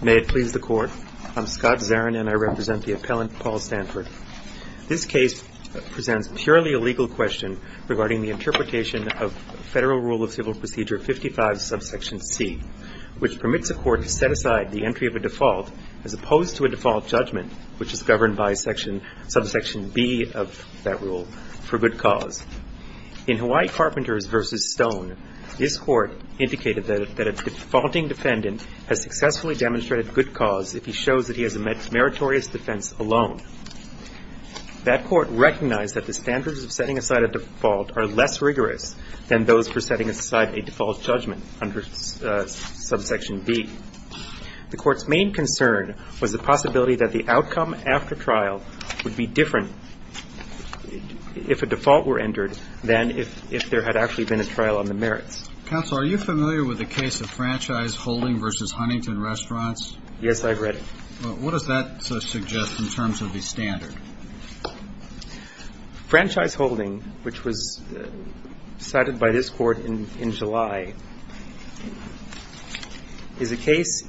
May it please the Court, I'm Scott Zarin and I represent the appellant Paul Stanford. This case presents purely a legal question regarding the interpretation of Federal Rule of Civil Procedure 55, subsection C, which permits a court to set aside the entry of a default as opposed to a default judgment, which is governed by subsection B of that rule, for good cause. In Hawaii Carpenters v. Stone, this court indicated that a defaulting defendant has successfully demonstrated good cause if he shows that he has a meritorious defense alone. That court recognized that the standards of setting aside a default are less rigorous than those for setting aside a default judgment under subsection B. The court's main concern was the possibility that the outcome after trial would be different if a default were entered than if there had actually been a trial on the merits. Counsel, are you familiar with the case of Franchise Holding v. Huntington Restaurants? Yes, I've read it. What does that suggest in terms of the standard? Franchise Holding, which was cited by this court in July, is a case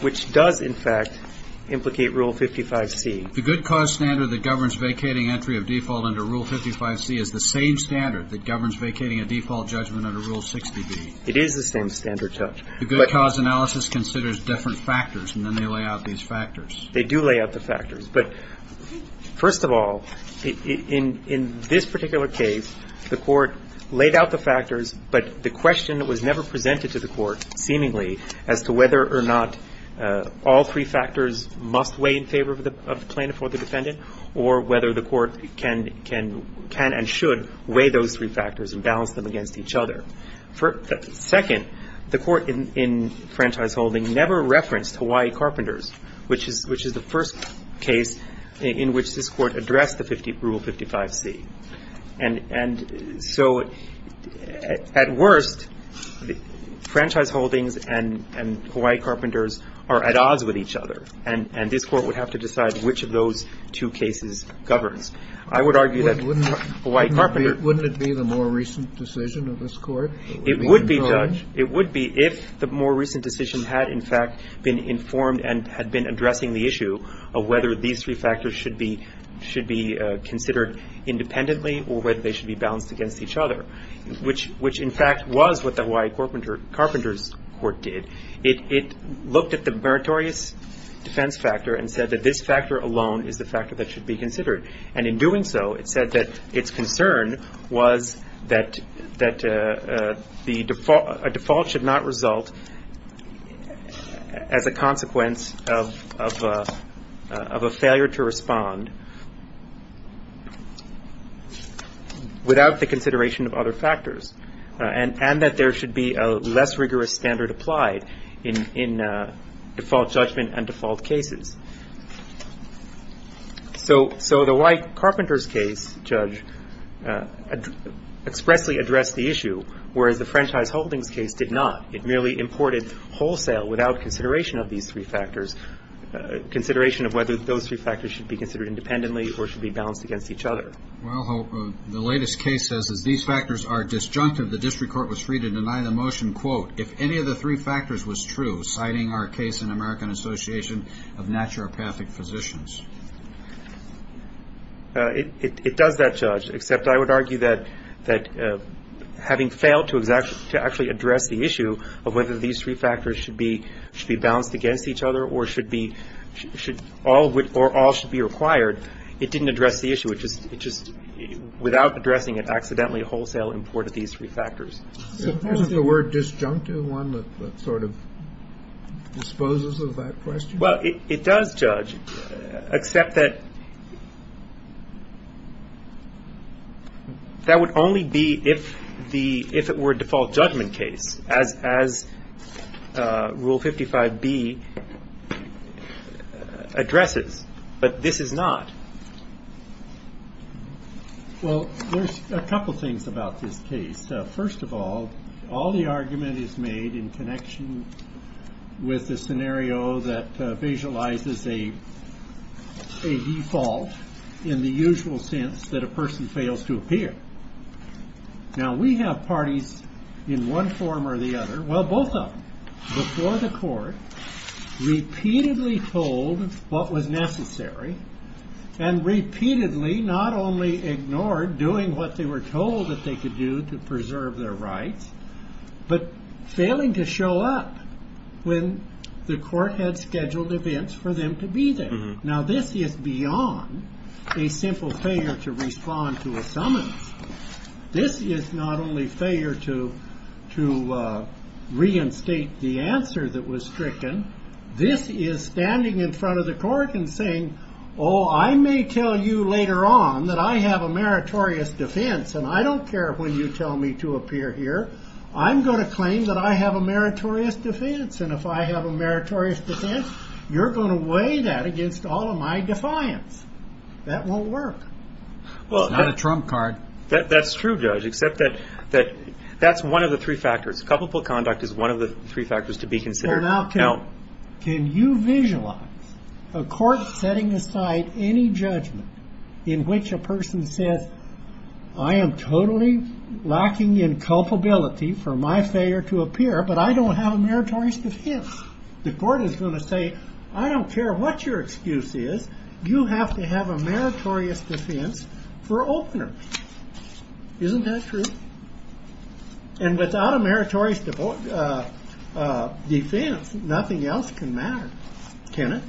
which does, in fact, implicate Rule 55C. The good cause standard that governs vacating entry of default under Rule 55C is the same standard that governs vacating a default judgment under Rule 60B. It is the same standard, Judge. The good cause analysis considers different factors, and then they lay out these factors. They do lay out the factors. But first of all, in this particular case, the court laid out the factors, but the question that was never presented to the court, seemingly, as to whether or not all three factors must weigh in favor of the plaintiff or the defendant, or whether the court can and should weigh those three factors and balance them against each other. Second, the court in Franchise Holding never referenced Hawaii Carpenters, which is the first case in which this court addressed the Rule 55C. And so, at worst, Franchise Holdings and Hawaii Carpenters are at odds with each other, and this court would have to decide which of those two cases governs. I would argue that Hawaii Carpenters — It would be, Judge. It would be if the more recent decision had, in fact, been informed and had been addressing the issue of whether these three factors should be considered independently or whether they should be balanced against each other, which, in fact, was what the Hawaii Carpenters court did. It looked at the meritorious defense factor and said that this factor alone is the factor that should be considered. And in doing so, it said that its concern was that a default should not result as a consequence of a failure to respond without the consideration of other factors, and that there should be a less rigorous standard applied in default judgment and default cases. So the Hawaii Carpenters case, Judge, expressly addressed the issue, whereas the Franchise Holdings case did not. It merely imported wholesale without consideration of these three factors — consideration of whether those three factors should be considered independently or should be balanced against each other. Well, the latest case says, as these factors are disjunctive, the district court was free to deny the motion, quote, if any of the three factors was true, citing our case in American Association of Naturopathic Physicians. It does that, Judge, except I would argue that having failed to actually address the issue of whether these three factors should be balanced against each other or all should be required, it didn't address the issue. It just, without addressing it, accidentally wholesale imported these three factors. Isn't the word disjunctive one that sort of disposes of that question? Well, it does, Judge, except that that would only be if the — if it were a default judgment case, as Rule 55B addresses. But this is not. Well, there's a couple of things about this case. First of all, all the argument is made in connection with the scenario that visualizes a default in the usual sense that a person fails to appear. Now, we have parties in one form or the other — well, both of them — before the court repeatedly told what was necessary and repeatedly not only ignored doing what they were told that they could do to preserve their rights, but failing to show up when the court had scheduled events for them to be there. Now, this is beyond a simple failure to respond to a summons. This is not only failure to reinstate the answer that was stricken. This is standing in front of the court and saying, oh, I may tell you later on that I have a meritorious defense, and I don't care when you tell me to appear here. I'm going to claim that I have a meritorious defense. And if I have a meritorious defense, you're going to weigh that against all of my defiance. That won't work. It's not a trump card. That's true, Judge, except that that's one of the three factors. Coupleful conduct is one of the three factors to be considered. Now, can you visualize a court setting aside any judgment in which a person says, I am totally lacking in culpability for my failure to appear, but I don't have a meritorious defense. The court is going to say, I don't care what your excuse is. You have to have a meritorious defense for opener. Isn't that true? And without a meritorious defense, nothing else can matter, can it?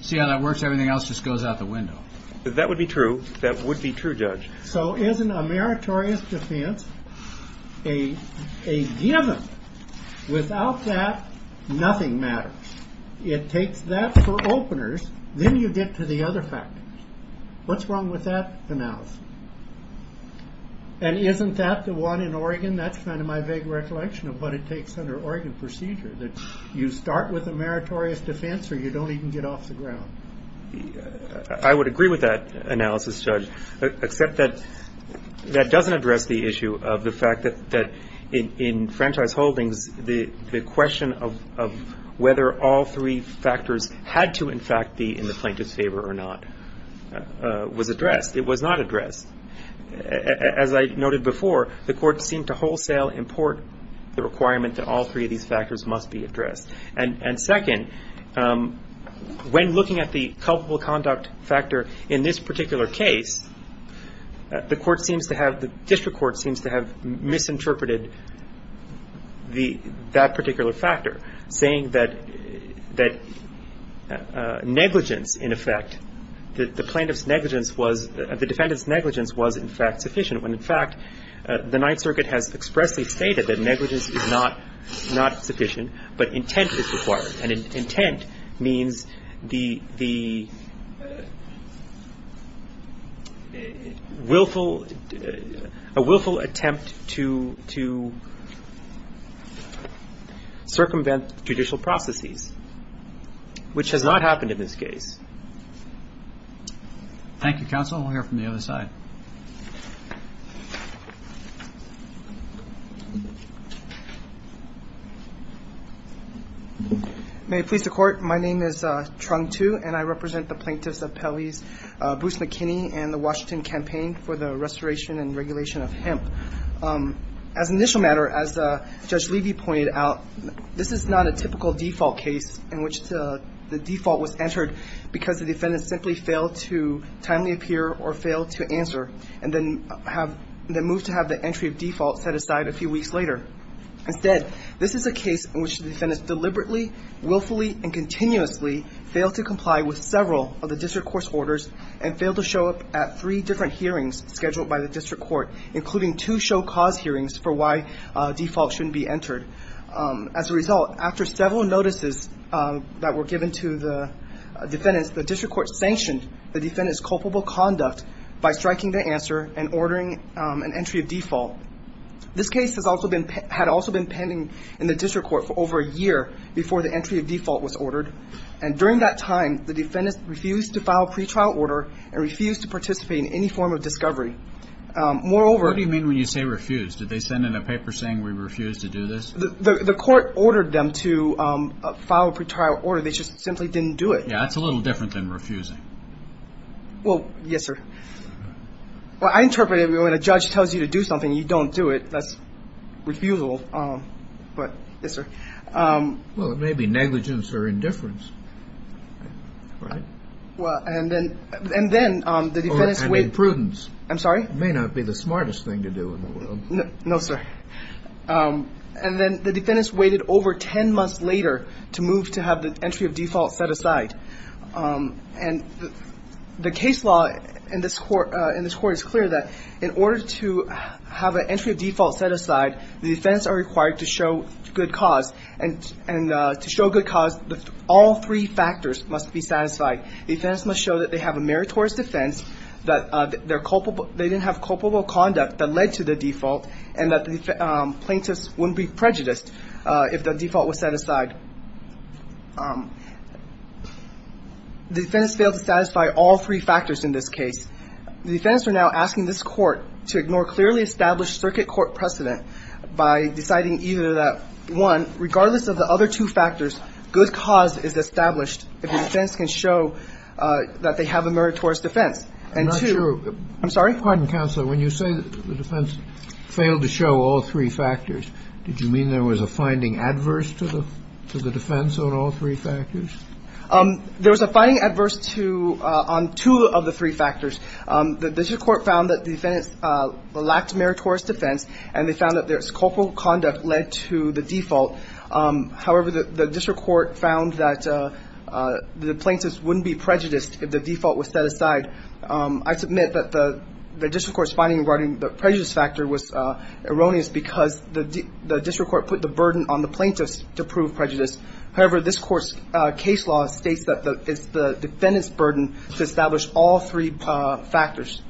See how that works? Everything else just goes out the window. That would be true. That would be true, Judge. So isn't a meritorious defense a given? Without that, nothing matters. It takes that for openers. Then you get to the other factors. What's wrong with that analysis? And isn't that the one in Oregon? That's kind of my vague recollection of what it takes under Oregon procedure, that you start with a meritorious defense or you don't even get off the ground. I would agree with that analysis, Judge, except that that doesn't address the issue of the fact that in franchise holdings, the question of whether all three factors had to, in fact, be in the plaintiff's favor or not was addressed. It was not addressed. As I noted before, the court seemed to wholesale import the requirement that all three of these factors must be addressed. And second, when looking at the culpable conduct factor in this particular case, the district court seems to have misinterpreted that particular factor, saying that negligence, in effect, the defendant's negligence was, in fact, sufficient, when, in fact, the Ninth Circuit has expressly stated that negligence is not sufficient, but intent is required. And intent means the willful attempt to circumvent judicial processes, which has not happened in this case. Thank you, counsel. We'll hear from the other side. May it please the Court, my name is Trung Tu, and I represent the plaintiffs of Pele's Bruce McKinney and the Washington Campaign for the Restoration and Regulation of Hemp. As an initial matter, as Judge Levy pointed out, this is not a typical default case in which the default was entered because the defendant simply failed to timely appear or failed to answer and then moved to have the entry of default set aside a few weeks later. Instead, this is a case in which the defendant deliberately, willfully, and continuously failed to comply with several of the district court's orders and failed to show up at three different hearings scheduled by the district court, including two show-cause hearings for why default shouldn't be entered. As a result, after several notices that were given to the defendants, the district court sanctioned the defendants' culpable conduct by striking their answer and ordering an entry of default. This case had also been pending in the district court for over a year before the entry of default was ordered, and during that time the defendants refused to file a pretrial order and refused to participate in any form of discovery. Moreover- What do you mean when you say refused? Did they send in a paper saying we refused to do this? The court ordered them to file a pretrial order. They just simply didn't do it. Yeah, that's a little different than refusing. Well, yes, sir. Well, I interpret it when a judge tells you to do something, you don't do it. That's refusal. But, yes, sir. Well, it may be negligence or indifference, right? Well, and then the defendants- Or imprudence. I'm sorry? It may not be the smartest thing to do in the world. No, sir. And then the defendants waited over 10 months later to move to have the entry of default set aside. And the case law in this court is clear that in order to have an entry of default set aside, the defendants are required to show good cause. And to show good cause, all three factors must be satisfied. The defendants must show that they have a meritorious defense, that they didn't have culpable conduct that led to the default, and that the plaintiffs wouldn't be prejudiced if the default was set aside. The defendants failed to satisfy all three factors in this case. The defendants are now asking this Court to ignore clearly established circuit court precedent by deciding either that, one, regardless of the other two factors, good cause is established if the defendants can show that they have a meritorious defense. And two- I'm not sure. I'm sorry? Pardon, Counselor. When you say the defendants failed to show all three factors, did you mean there was a finding adverse to the defense on all three factors? There was a finding adverse to – on two of the three factors. The district court found that the defendants lacked meritorious defense, and they found that their culpable conduct led to the default. However, the district court found that the plaintiffs wouldn't be prejudiced if the default was set aside. I submit that the district court's finding regarding the prejudice factor was erroneous because the district court put the burden on the plaintiffs to prove prejudice. However, this Court's case law states that it's the defendants' burden to establish all three factors.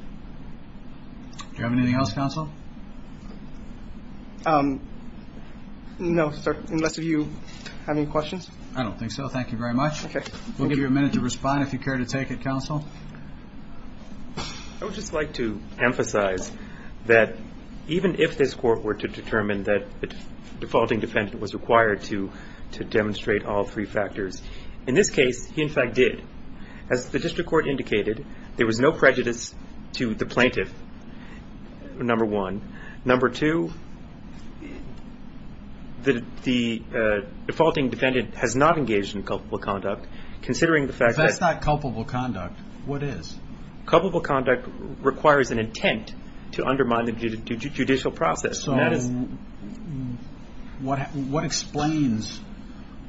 Do you have anything else, Counsel? No, sir, unless you have any questions. I don't think so. Thank you very much. Okay. Counsel? I would just like to emphasize that even if this Court were to determine that the defaulting defendant was required to demonstrate all three factors, in this case he, in fact, did. As the district court indicated, there was no prejudice to the plaintiff, number one. Number two, the defaulting defendant has not engaged in culpable conduct, considering the fact that If that's not culpable conduct, what is? Culpable conduct requires an intent to undermine the judicial process. So what explains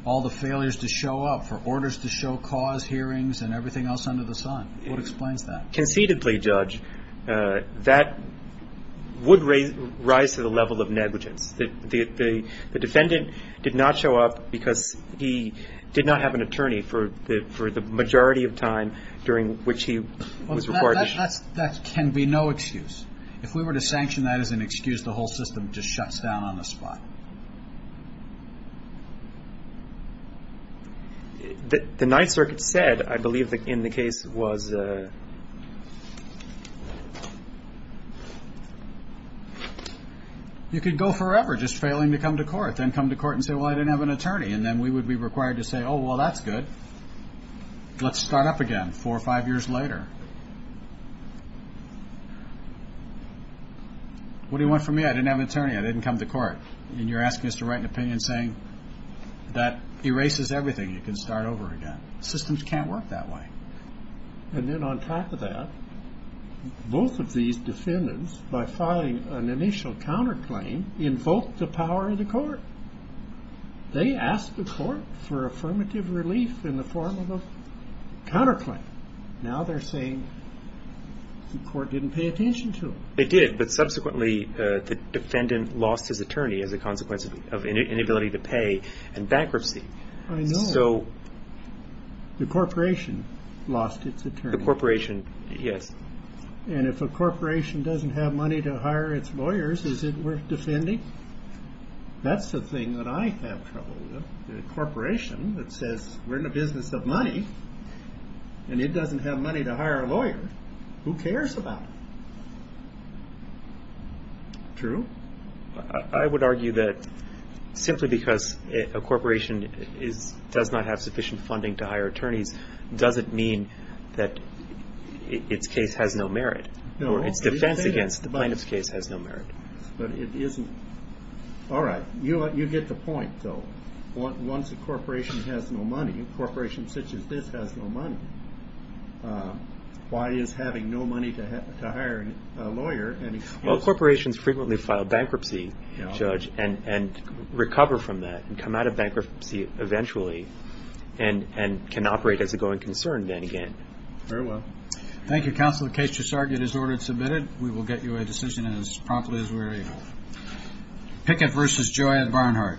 all the failures to show up for orders to show cause, hearings, and everything else under the sun? What explains that? Conceitedly, Judge, that would rise to the level of negligence. The defendant did not show up because he did not have an attorney for the majority of time during which he was required to show up. That can be no excuse. If we were to sanction that as an excuse, the whole system just shuts down on the spot. The Ninth Circuit said, I believe, in the case was You could go forever just failing to come to court, then come to court and say, well, I didn't have an attorney, and then we would be required to say, oh, well, that's good. Let's start up again four or five years later. What do you want from me? I didn't have an attorney. I didn't come to court. And you're asking us to write an opinion saying that erases everything. You can start over again. Systems can't work that way. And then on top of that, both of these defendants, by filing an initial counterclaim, invoked the power of the court. They asked the court for affirmative relief in the form of a counterclaim. Now they're saying the court didn't pay attention to them. They did, but subsequently the defendant lost his attorney as a consequence of inability to pay and bankruptcy. I know. The corporation lost its attorney. The corporation, yes. And if a corporation doesn't have money to hire its lawyers, is it worth defending? That's the thing that I have trouble with. A corporation that says we're in the business of money and it doesn't have money to hire a lawyer, who cares about it? True? I would argue that simply because a corporation does not have sufficient funding to hire attorneys doesn't mean that its case has no merit. Its defense against the plaintiff's case has no merit. But it isn't. All right. You get the point, though. Once a corporation has no money, a corporation such as this has no money, why is having no money to hire a lawyer an excuse? All corporations frequently file bankruptcy, Judge, and recover from that and come out of bankruptcy eventually and can operate as a going concern then again. Very well. Thank you, Counselor. The case just argued is ordered and submitted. We will get you a decision as promptly as we're able. Pickett v. Joy at Barnhart. Thank you.